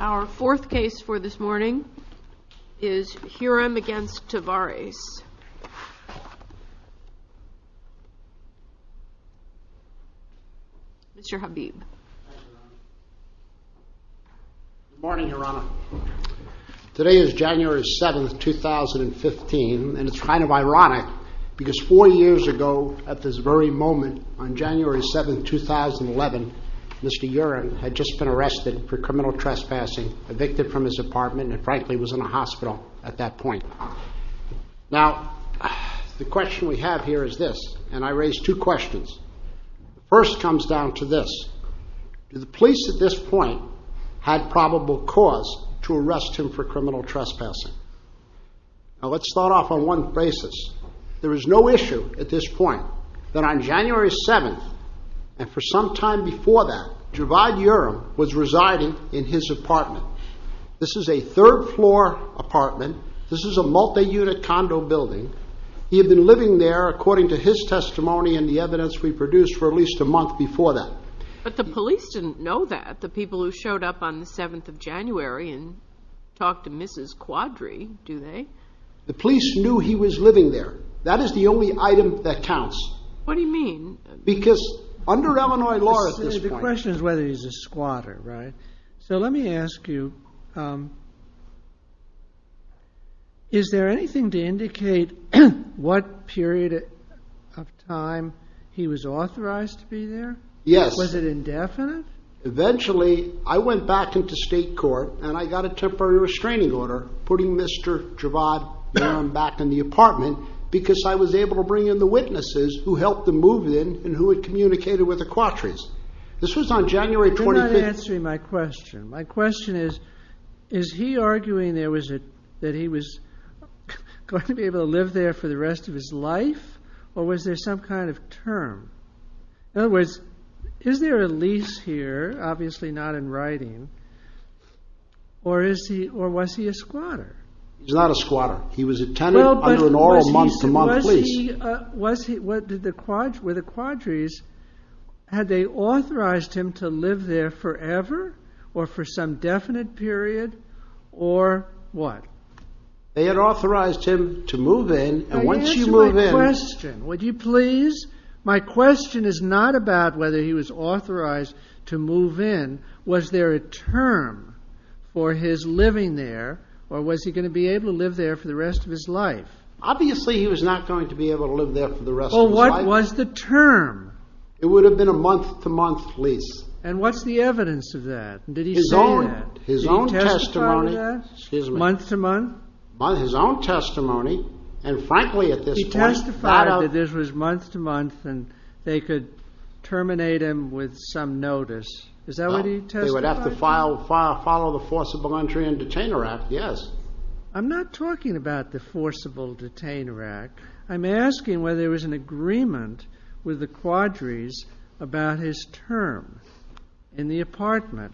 Our fourth case for this morning is Hurem v. Tavares. Mr. Habib. Good morning, Your Honor. Today is January 7th, 2015, and it's kind of ironic because four years ago at this very moment, on January 7th, 2011, Mr. Hurem had just been arrested for criminal trespassing, evicted from his apartment, and frankly was in a hospital at that point. Now, the question we have here is this, and I raise two questions. The first comes down to this. Do the police at this point have probable cause to arrest him for criminal trespassing? Now, let's start off on one basis. There is no issue at this point that on January 7th, and for some time before that, Dzevad Hurem was residing in his apartment. This is a third floor apartment. This is a multi-unit condo building. He had been living there according to his testimony and the evidence we produced for at least a month before that. But the police didn't know that, the people who showed up on the 7th of January and talked to Mrs. Quadri, do they? The police knew he was living there. That is the only item that counts. What do you mean? Because under Illinois law at this point... The question is whether he's a squatter, right? So let me ask you, is there anything to indicate what period of time he was authorized to be there? Yes. Was it indefinite? Eventually, I went back into state court and I got a temporary restraining order putting Mr. Dzevad Hurem back in the apartment because I was able to bring in the witnesses who helped him move in and who had communicated with the Quadris. This was on January 25th. You're not answering my question. My question is, is he arguing that he was going to be able to live there for the rest of his life or was there some kind of term? In other words, is there a lease here, obviously not in writing, or was he a squatter? He's not a squatter. He was a tenant under an oral month-to-month lease. Were the Quadris, had they authorized him to live there forever or for some definite period or what? They had authorized him to move in and once you move in... Answer my question, would you please? My question is not about whether he was authorized to move in. Was there a term for his living there or was he going to be able to live there for the rest of his life? Obviously, he was not going to be able to live there for the rest of his life. Well, what was the term? It would be a month-to-month lease. And what's the evidence of that? Did he say that? His own testimony. Did he testify to that? Excuse me. Month-to-month? His own testimony and frankly at this point... He testified that this was month-to-month and they could terminate him with some notice. Is that what he testified to? They would have to follow the Forcible Entry and Detainer Act, yes. I'm not talking about the Forcible Detainer Act. I'm asking whether there was an agreement with the Quadris about his term in the apartment.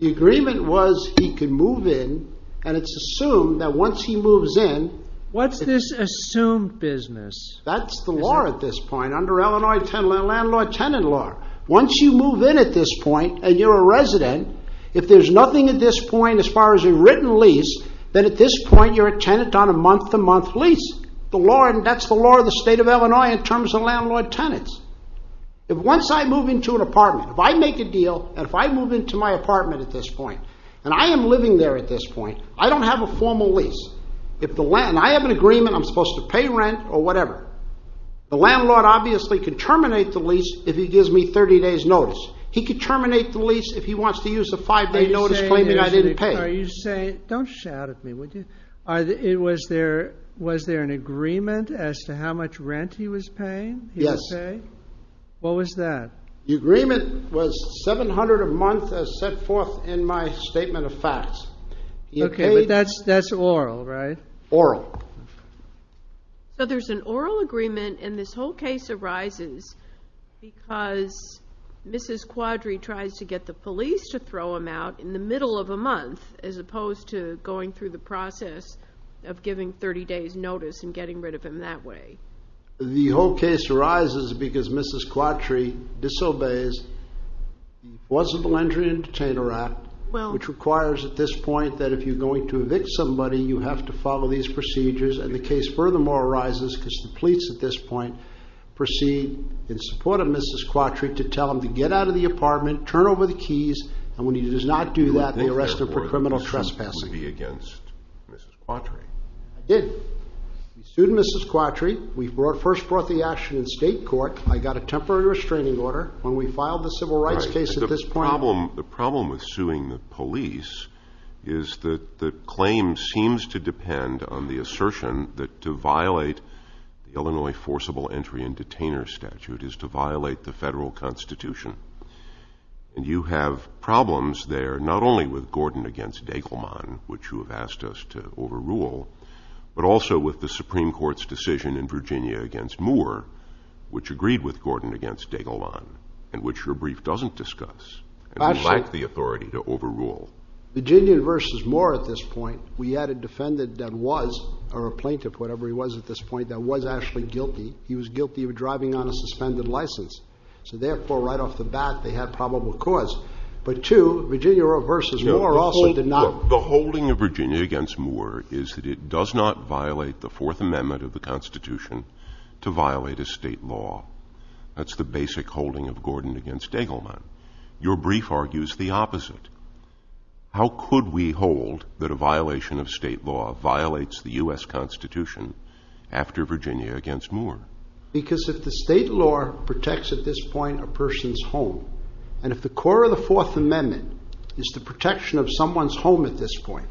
The agreement was he could move in and it's assumed that once he moves in... What's this assumed business? That's the law at this point under Illinois Tenant Law. Once you move in at this point and you're a resident, if there's nothing at this point as far as a written lease, then at this point you're a tenant on a month-to-month lease. That's the law of the state of Illinois in terms of landlord-tenants. If once I move into an apartment, if I make a deal and if I move into my apartment at this point and I am living there at this point, I don't have a formal lease. I have an agreement I'm supposed to pay rent or whatever. The landlord obviously can terminate the lease if he gives me 30 days notice. He can terminate the lease if he wants to use the five-day notice claiming I didn't pay. Don't shout at me, would you? Was there an agreement as to how much rent he was paying? Yes. What was that? The agreement was $700 a month as set forth in my statement of facts. That's oral, right? Oral. So there's an oral agreement and this whole case arises because Mrs. Quadri tries to get the police to throw him out in the middle of a month as opposed to going through the process of giving 30 days notice and getting rid of him that way. The whole case arises because Mrs. Quadri disobeys the Laws of the Landry Entertainer Act, which requires at this point that if you're going to evict somebody, you have to follow these procedures and the case furthermore arises because the police at this point proceed in support of Mrs. Quadri to tell him to get out of the apartment, turn over the keys, and when he does not do that, they arrest him for criminal trespassing. I didn't think, therefore, that this would be against Mrs. Quadri. I did. We sued Mrs. Quadri. We first brought the action in state court. I got a temporary restraining order when we filed the civil rights case at this point. The problem with suing the police is that the claim seems to depend on the assertion that to violate the Illinois forcible entry and detainer statute is to violate the federal constitution. And you have problems there not only with Gordon against Degelman, which you have asked us to overrule, but also with the Supreme Court's decision in Virginia against Moore, which agreed with Gordon against Degelman, and which your brief doesn't discuss, and we lack the authority to overrule. Virginia versus Moore at this point, we had a defendant that was or a plaintiff, whatever he was at this point, that was actually guilty. He was guilty of driving on a suspended license. So, therefore, right off the bat, they had probable cause. But two, Virginia versus Moore also did not... The holding of Virginia against Moore is that it does not violate the Fourth Amendment of the Constitution to violate a state law. That's the basic holding of Gordon against Degelman. Your brief argues the opposite. How could we hold that a violation of state law violates the U.S. Constitution after Virginia against Moore? Because if the state law protects at this point a person's home, and if the core of the Fourth Amendment is the protection of someone's home at this point,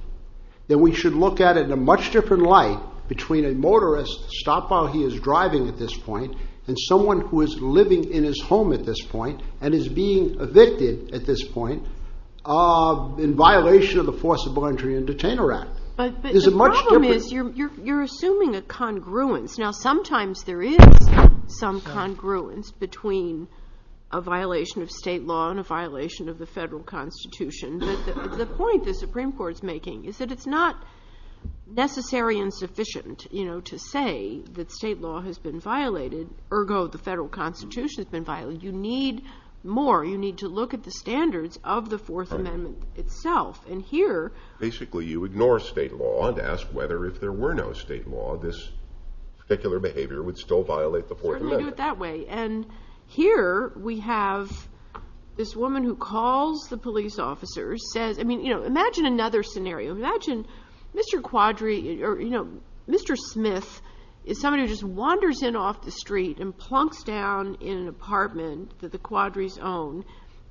then we should look at it in a much different light between a motorist stopped while he is driving at this point and someone who is living in his home at this point and is being evicted at this point in violation of the Forcible Entry and Detainer Act. But the problem is you're assuming a congruence. Now, sometimes there is some congruence between a violation of state law and a violation of the federal Constitution. But the point the Supreme Court is making is that it's not necessary and sufficient to say that state law has been violated, ergo the federal Constitution has been violated. You need more. You need to look at the standards of the Fourth Amendment itself. Basically, you ignore state law and ask whether if there were no state law, this particular behavior would still violate the Fourth Amendment. Certainly do it that way. And here we have this woman who calls the police officers. Imagine another scenario. Imagine Mr. Smith is somebody who just wanders in off the street and plunks down in an apartment that the Quadris own,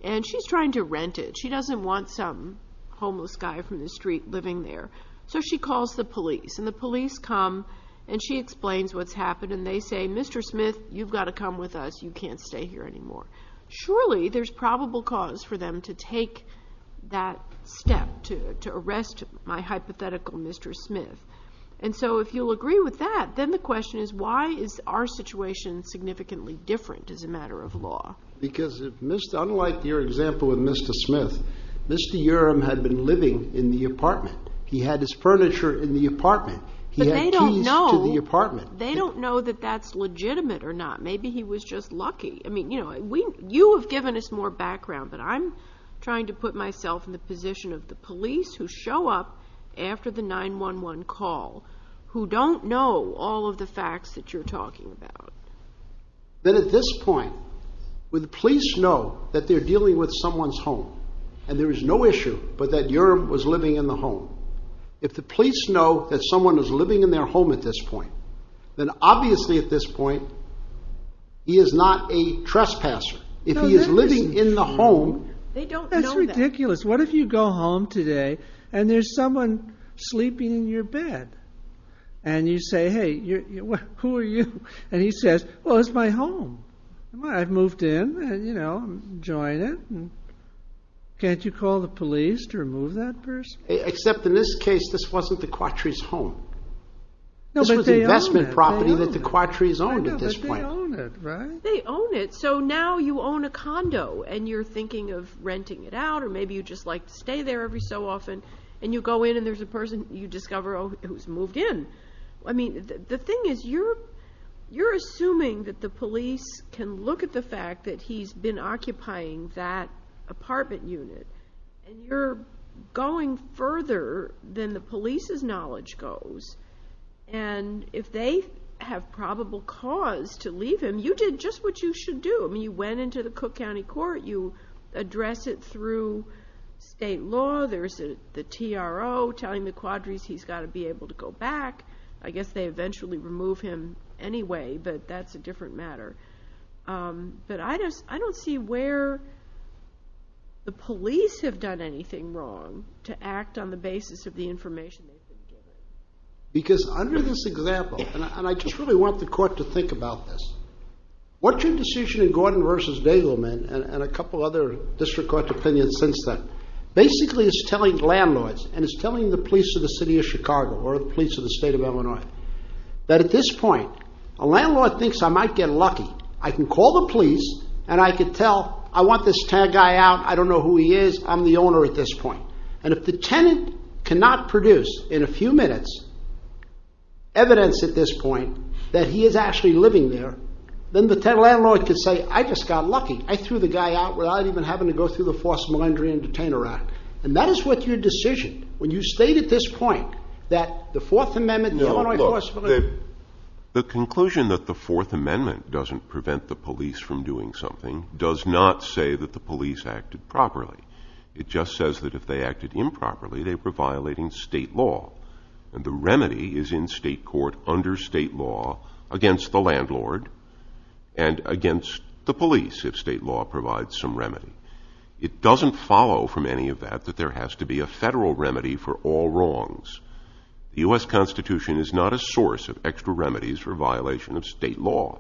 and she's trying to rent it. She doesn't want some homeless guy from the street living there. So she calls the police, and the police come and she explains what's happened, and they say, Mr. Smith, you've got to come with us. You can't stay here anymore. Surely there's probable cause for them to take that step, to arrest my hypothetical Mr. Smith. And so if you'll agree with that, then the question is why is our situation significantly different as a matter of law? Because unlike your example with Mr. Smith, Mr. Uram had been living in the apartment. He had his furniture in the apartment. He had keys to the apartment. They don't know that that's legitimate or not. Maybe he was just lucky. You have given us more background, but I'm trying to put myself in the position of the police who show up after the 911 call, who don't know all of the facts that you're talking about. Then at this point, would the police know that they're dealing with someone's home, and there is no issue, but that Uram was living in the home? If the police know that someone is living in their home at this point, then obviously at this point, he is not a trespasser. If he is living in the home, that's ridiculous. What if you go home today, and there's someone sleeping in your bed, and you say, hey, who are you? He says, well, it's my home. I've moved in. I'm enjoying it. Can't you call the police to remove that person? Except in this case, this wasn't the Quattri's home. This was investment property that the Quattri's owned at this point. But they own it, right? They own it, so now you own a condo, and you're thinking of renting it out, or maybe you just stay there every so often, and you go in, and there's a person you discover who's moved in. The thing is, you're assuming that the police can look at the fact that he's been occupying that apartment unit, and you're going further than the police's knowledge goes. If they have probable cause to leave him, you did just what you should do. You went it through state law. There's the TRO telling the Quattri's he's got to be able to go back. I guess they eventually remove him anyway, but that's a different matter. But I don't see where the police have done anything wrong to act on the basis of the information they've been given. Because under this example, and I just really want the court to think about this, what your opinion since then, basically it's telling landlords, and it's telling the police of the city of Chicago, or the police of the state of Illinois, that at this point, a landlord thinks I might get lucky. I can call the police, and I can tell, I want this guy out, I don't know who he is, I'm the owner at this point. And if the tenant cannot produce, in a few minutes, evidence at this point that he is actually living there, then the landlord can say, I just got lucky, I threw the guy out without even having to go through the Forced Malendry and Detainer Act. And that is what your decision, when you state at this point, that the Fourth Amendment, the Illinois Forced Malendry Act... The conclusion that the Fourth Amendment doesn't prevent the police from doing something does not say that the police acted properly. It just says that if they acted improperly, they were violating state law. And the remedy is in state court, under state law, against the remedy. It doesn't follow from any of that that there has to be a federal remedy for all wrongs. The U.S. Constitution is not a source of extra remedies for violation of state law.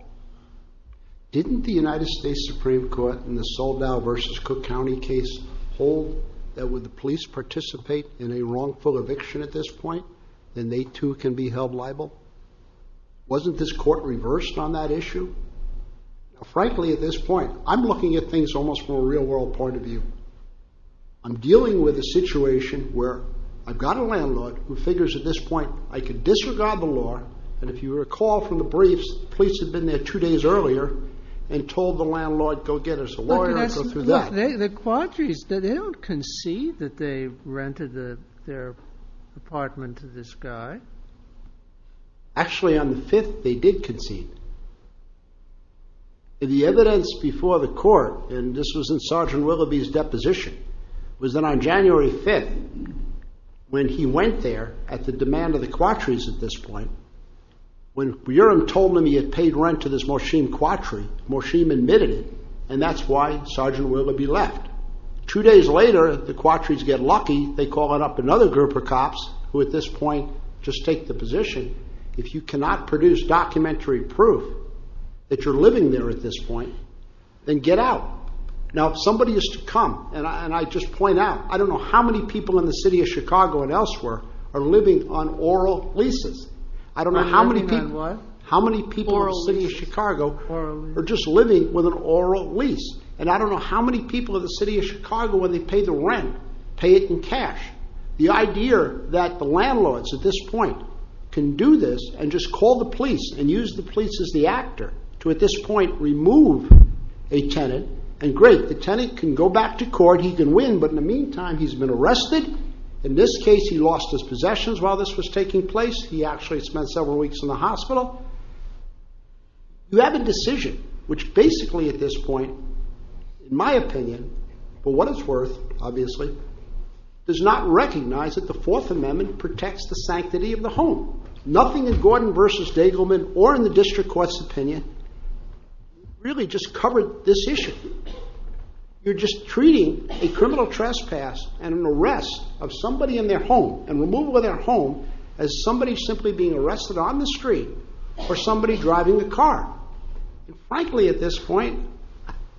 Didn't the United States Supreme Court, in the Soledad versus Cook County case, hold that if the police participate in a wrongful eviction at this point, then they too can be held liable? Wasn't this court reversed on that issue? Frankly, at this point, I'm looking at things almost from a real-world point of view. I'm dealing with a situation where I've got a landlord who figures at this point I could disregard the law, and if you recall from the briefs, the police had been there two days earlier and told the landlord, go get us a lawyer and go through that. The Quadris, they don't concede that they rented their apartment to this guy? Actually, on the 5th, they did concede. The evidence before the court, and this was in Sgt. Willoughby's deposition, was that on January 5th, when he went there, at the demand of the Quadris at this point, when Buyerum told him he had paid rent to this Morshim Quadri, Morshim admitted it, and that's why Sgt. Willoughby left. Two days later, the Quadris get lucky, they call it up another group of cops, who at this point just take the position, if you cannot produce documentary proof that you're living there at this point, then get out. Now, if somebody is to come, and I just point out, I don't know how many people in the city of Chicago and elsewhere are living on oral leases. I don't know how many people in the city of Chicago are just living with an oral lease. And I don't know how many people in the city of Chicago, when they pay the rent, pay it in cash, the idea that the landlords at this point can do this and just call the police and use the police as the actor to at this point remove a tenant, and great, the tenant can go back to court, he can win, but in the meantime he's been arrested, in this case he lost his possessions while this was taking place, he actually spent several weeks in the hospital. You have a decision, which basically at this point, in my opinion, for what it's worth, obviously, does not recognize that the Fourth Amendment protects the sanctity of the home. Nothing in Gordon v. Daigleman or in the district court's opinion really just covered this issue. You're just treating a criminal trespass and an arrest of somebody in their home and removal of their home as somebody simply being arrested on the street or somebody driving a car. Frankly, at this point,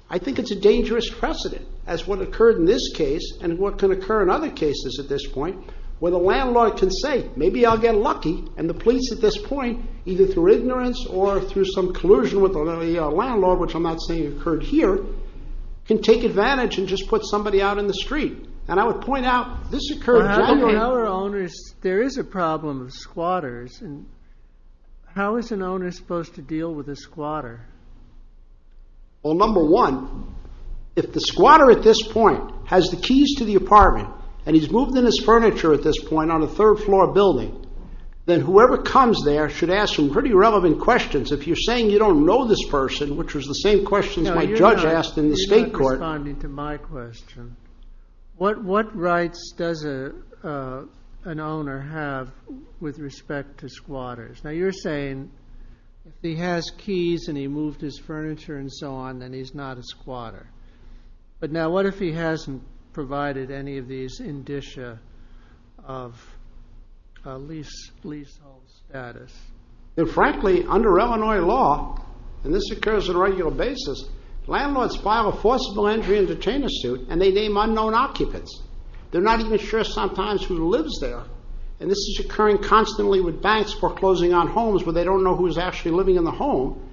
I think it's a dangerous precedent as what occurred in this case and what can occur in other cases at this point, where the landlord can say, maybe I'll get lucky, and the police at this point, either through ignorance or through some collusion with the landlord, which I'm not saying occurred here, can take advantage and just put somebody out in the street. And I would point out, this occurred in January. How are owners, there is a problem of squatters, and how is an owner supposed to deal with a squatter? Well, number one, if the squatter at this point has the keys to the apartment and he's moved in his furniture at this point on a third floor building, then whoever comes there should ask him pretty relevant questions. If you're saying you don't know this person, which was the same questions my judge asked in the state court. You're not responding to my question. What rights does an owner have with respect to if he's moved his furniture and so on, then he's not a squatter? But now what if he hasn't provided any of these indicia of leasehold status? Frankly, under Illinois law, and this occurs on a regular basis, landlords file a forcible entry and detainer suit and they name unknown occupants. They're not even sure sometimes who lives there. And this is occurring constantly with banks foreclosing on homes where they don't know who's actually living in the home.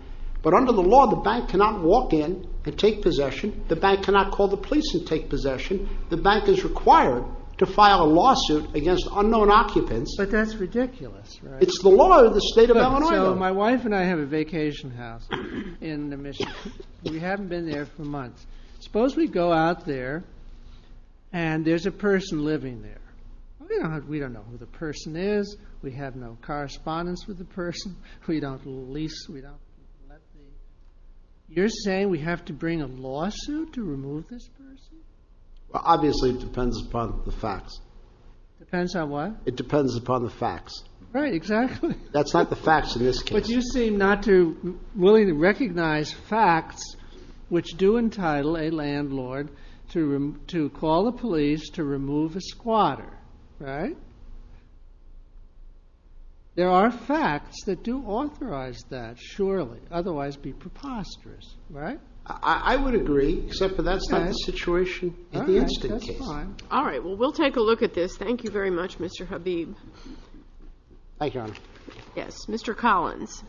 But under the law, the bank cannot walk in and take possession. The bank cannot call the police and take possession. The bank is required to file a lawsuit against unknown occupants. But that's ridiculous. It's the law of the state of Illinois though. So my wife and I have a vacation house in Michigan. We haven't been there for months. Suppose we go out there and there's a person living there. We don't know who the person is. We have no correspondence with the person. You're saying we have to bring a lawsuit to remove this person? Obviously it depends upon the facts. Depends on what? It depends upon the facts. Right, exactly. That's not the facts in this case. But you seem not to be willing to recognize facts which do entitle a landlord to call the police to remove a squatter, right? There are facts that do authorize that, surely, otherwise be preposterous, right? I would agree, except for that's not the situation in the instant case. All right, well, we'll take a look at this. Thank you very much, Mr. Habib. Thank you, Your Honor. Yes, Mr. Collins.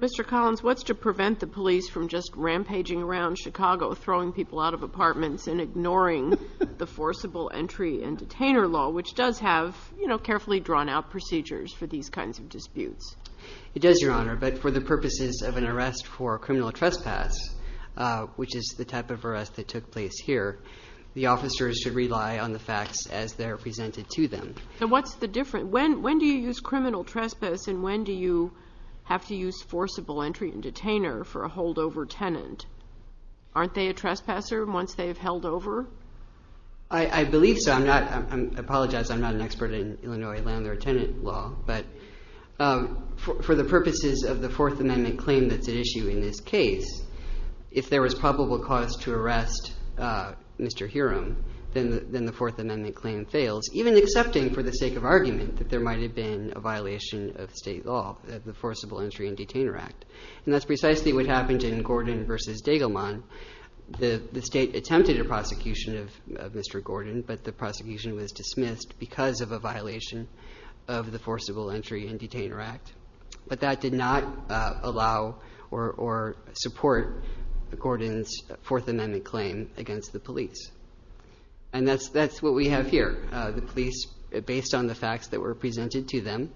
Mr. Collins, what's to prevent the police from just rampaging around Chicago, throwing people out of apartments and ignoring the forcible entry and detainer law, which does have carefully drawn out procedures for these kinds of disputes? It does, Your Honor, but for the purposes of an arrest for criminal trespass, which is the type of arrest that took place here, the officers should rely on the facts as they're presented to them. So what's the difference? When do you use criminal trespass and when do you have to use forcible entry and detainer for a holdover tenant? Aren't they a trespasser once they've held over? I believe so. I apologize, I'm not an expert in Illinois landlord-tenant law. But for the purposes of the Fourth Amendment claim that's at issue in this case, if there was probable cause to arrest Mr. Hiram, then the Fourth Amendment claim fails, even accepting for the sake of argument that there might have been a violation of state law, the Forcible Entry and Detainer Act. And that's precisely what happened in Gordon v. Dagelman. The state attempted a prosecution of Mr. Gordon, but the prosecution was dismissed because of a violation of the Forcible Entry and Detainer Act. But that did not allow or support Gordon's Fourth Amendment claim against the police. And that's what we have here. The police, based on the facts that were presented to them,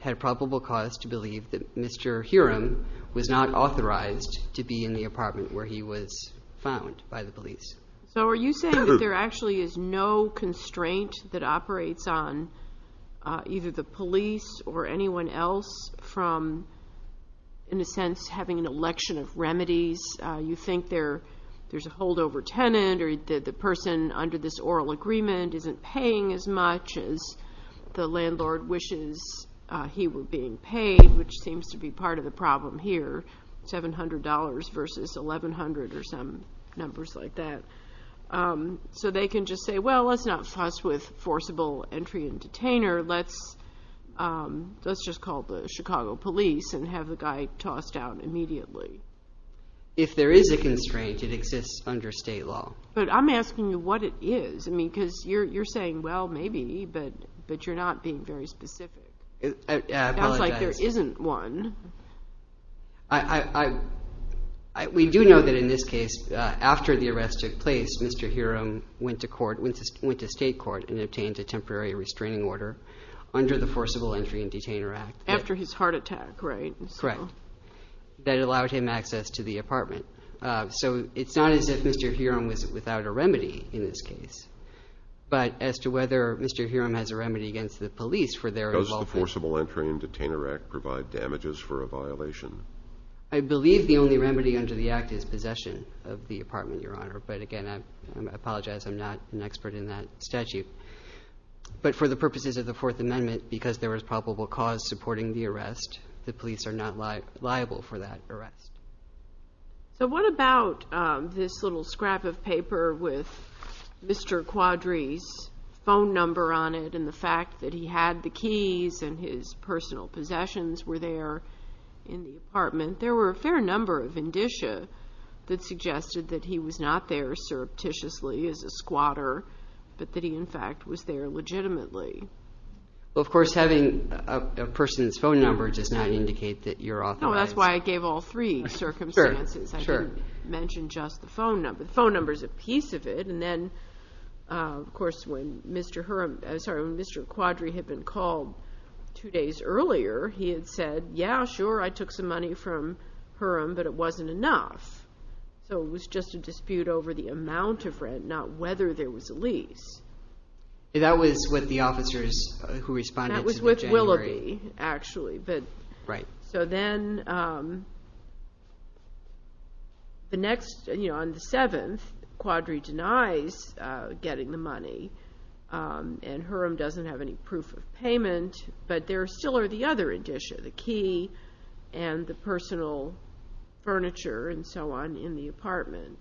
had probable cause to believe that Mr. Hiram was not authorized to be in the apartment where he was found by the police. So are you saying that there actually is no constraint that operates on either the police or anyone else from, in a sense, having an election of remedies? You think there's a holdover tenant or the person under this oral agreement isn't paying as much as the landlord wishes he were being paid, which seems to be part of the problem here, $700 versus $1,100 or some numbers like that. So they can just say, well, let's not fuss with forcible entry and detainer. Let's just call the Chicago police and have the guy tossed out immediately. If there is a constraint, it exists under state law. But I'm asking you what it is because you're saying, well, maybe, but you're not being very specific. It sounds like there isn't one. We do know that in this case, after the arrest took place, Mr. Hiram went to state court and obtained a temporary restraining order under the Forcible Entry and Detainer Act. After his heart attack, right? Correct. That allowed him access to the apartment. So it's not as if Mr. Hiram was without a remedy in this case. But as to whether Mr. Hiram has a remedy against the police for their involvement. Does the Forcible Entry and Detainer Act provide damages for a violation? I believe the only remedy under the act is possession of the apartment, Your Honor. But, again, I apologize, I'm not an expert in that statute. But for the purposes of the Fourth Amendment, because there was probable cause supporting the arrest, the police are not liable for that arrest. So what about this little scrap of paper with Mr. Quadri's phone number on it and the fact that he had the keys and his personal possessions were there in the apartment? There were a fair number of indicia that suggested that he was not there surreptitiously as a squatter, but that he, in fact, was there legitimately. Well, of course, having a person's phone number does not indicate that you're authorized. No, that's why I gave all three circumstances. I didn't mention just the phone number. The phone number is a piece of it. And then, of course, when Mr. Quadri had been called two days earlier, he had said, yeah, sure, I took some money from Hurom, but it wasn't enough. So it was just a dispute over the amount of rent, not whether there was a lease. That was with the officers who responded in January. That was with Willoughby, actually. Right. So then, on the 7th, Quadri denies getting the money, and Hurom doesn't have any proof of payment. But there still are the other indicia, the key and the personal furniture and so on in the apartment.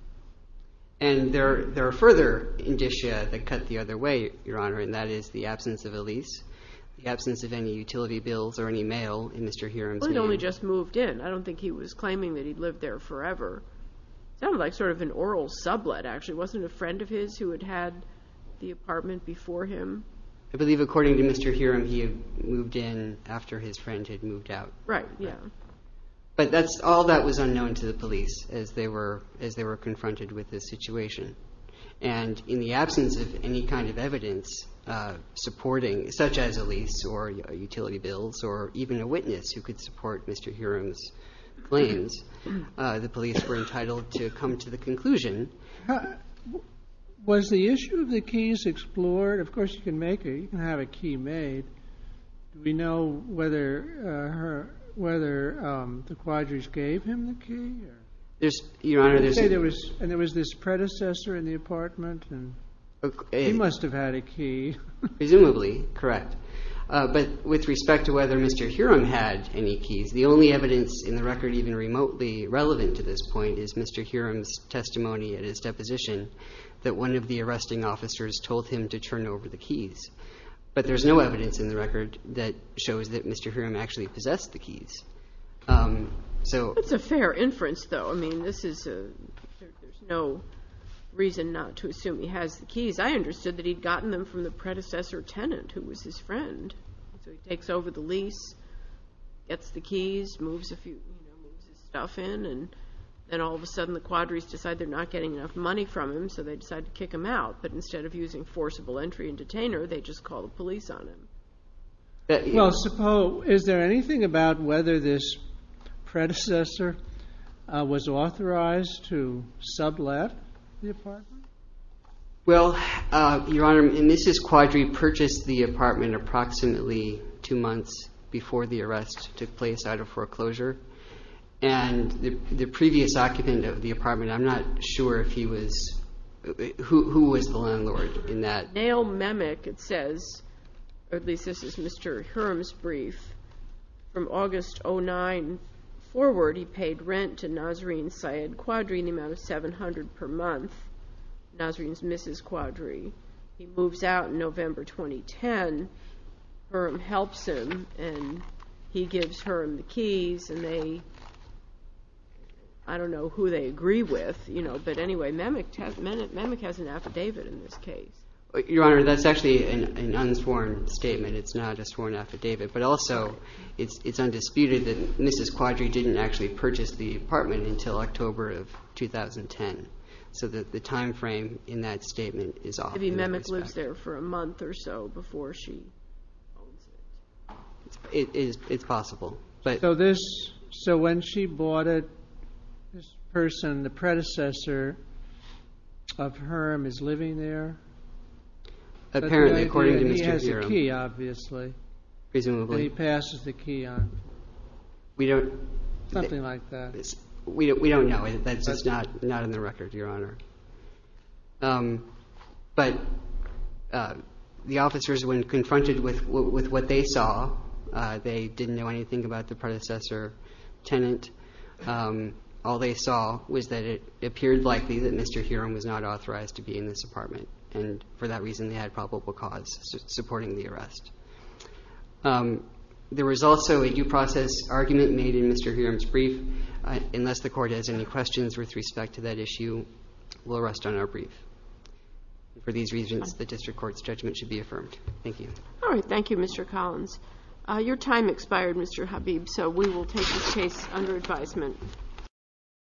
And there are further indicia that cut the other way, Your Honor, and that is the absence of a lease, the absence of any utility bills or any mail in Mr. Hurom's name. Well, he only just moved in. I don't think he was claiming that he lived there forever. It sounded like sort of an oral sublet, actually. It wasn't a friend of his who had had the apartment before him? I believe, according to Mr. Hurom, he had moved in after his friend had moved out. Right, yeah. But all that was unknown to the police as they were confronted with this situation. And in the absence of any kind of evidence supporting, such as a lease or utility bills or even a witness who could support Mr. Hurom's claims, the police were entitled to come to the conclusion. Was the issue of the keys explored? Of course, you can make it. You can have a key made. Do we know whether the Quadrige gave him the key? Your Honor, this is— And there was this predecessor in the apartment, and he must have had a key. Presumably, correct. But with respect to whether Mr. Hurom had any keys, the only evidence in the record, even remotely relevant to this point, is Mr. Hurom's testimony at his deposition that one of the arresting officers told him to turn over the keys. But there's no evidence in the record that shows that Mr. Hurom actually possessed the keys. That's a fair inference, though. I mean, there's no reason not to assume he has the keys. I understood that he'd gotten them from the predecessor tenant who was his friend. So he takes over the lease, gets the keys, moves his stuff in, and then all of a sudden the Quadriges decide they're not getting enough money from him, so they decide to kick him out. But instead of using forcible entry and detainer, they just call the police on him. Well, is there anything about whether this predecessor was authorized to sublet the apartment? Well, Your Honor, Mrs. Quadriges purchased the apartment approximately two months before the arrest took place out of foreclosure. And the previous occupant of the apartment, I'm not sure who was the landlord in that. Nail Memick, it says, or at least this is Mr. Hurom's brief, from August 2009 forward, he paid rent to Nasreen Syed Quadri in the amount of $700 per month. Nasreen's Mrs. Quadriges. He moves out in November 2010. Hurom helps him, and he gives Hurom the keys, and they, I don't know who they agree with. But anyway, Memick has an affidavit in this case. Your Honor, that's actually an unsworn statement. It's not a sworn affidavit. But also it's undisputed that Mrs. Quadriges didn't actually purchase the apartment until October of 2010. So the time frame in that statement is off. Maybe Memick lives there for a month or so before she owns it. It's possible. So when she bought it, this person, the predecessor of Hurom, is living there? Apparently, according to Mr. Hurom. He has a key, obviously. And he passes the key on. Something like that. We don't know. That's just not in the record, Your Honor. But the officers, when confronted with what they saw, they didn't know anything about the predecessor tenant. All they saw was that it appeared likely that Mr. Hurom was not authorized to be in this apartment, and for that reason they had probable cause supporting the arrest. There was also a due process argument made in Mr. Hurom's brief. Unless the court has any questions with respect to that issue, we'll rest on our brief. For these reasons, the district court's judgment should be affirmed. Thank you. All right. Thank you, Mr. Collins. Your time expired, Mr. Habib, so we will take this case under advisement.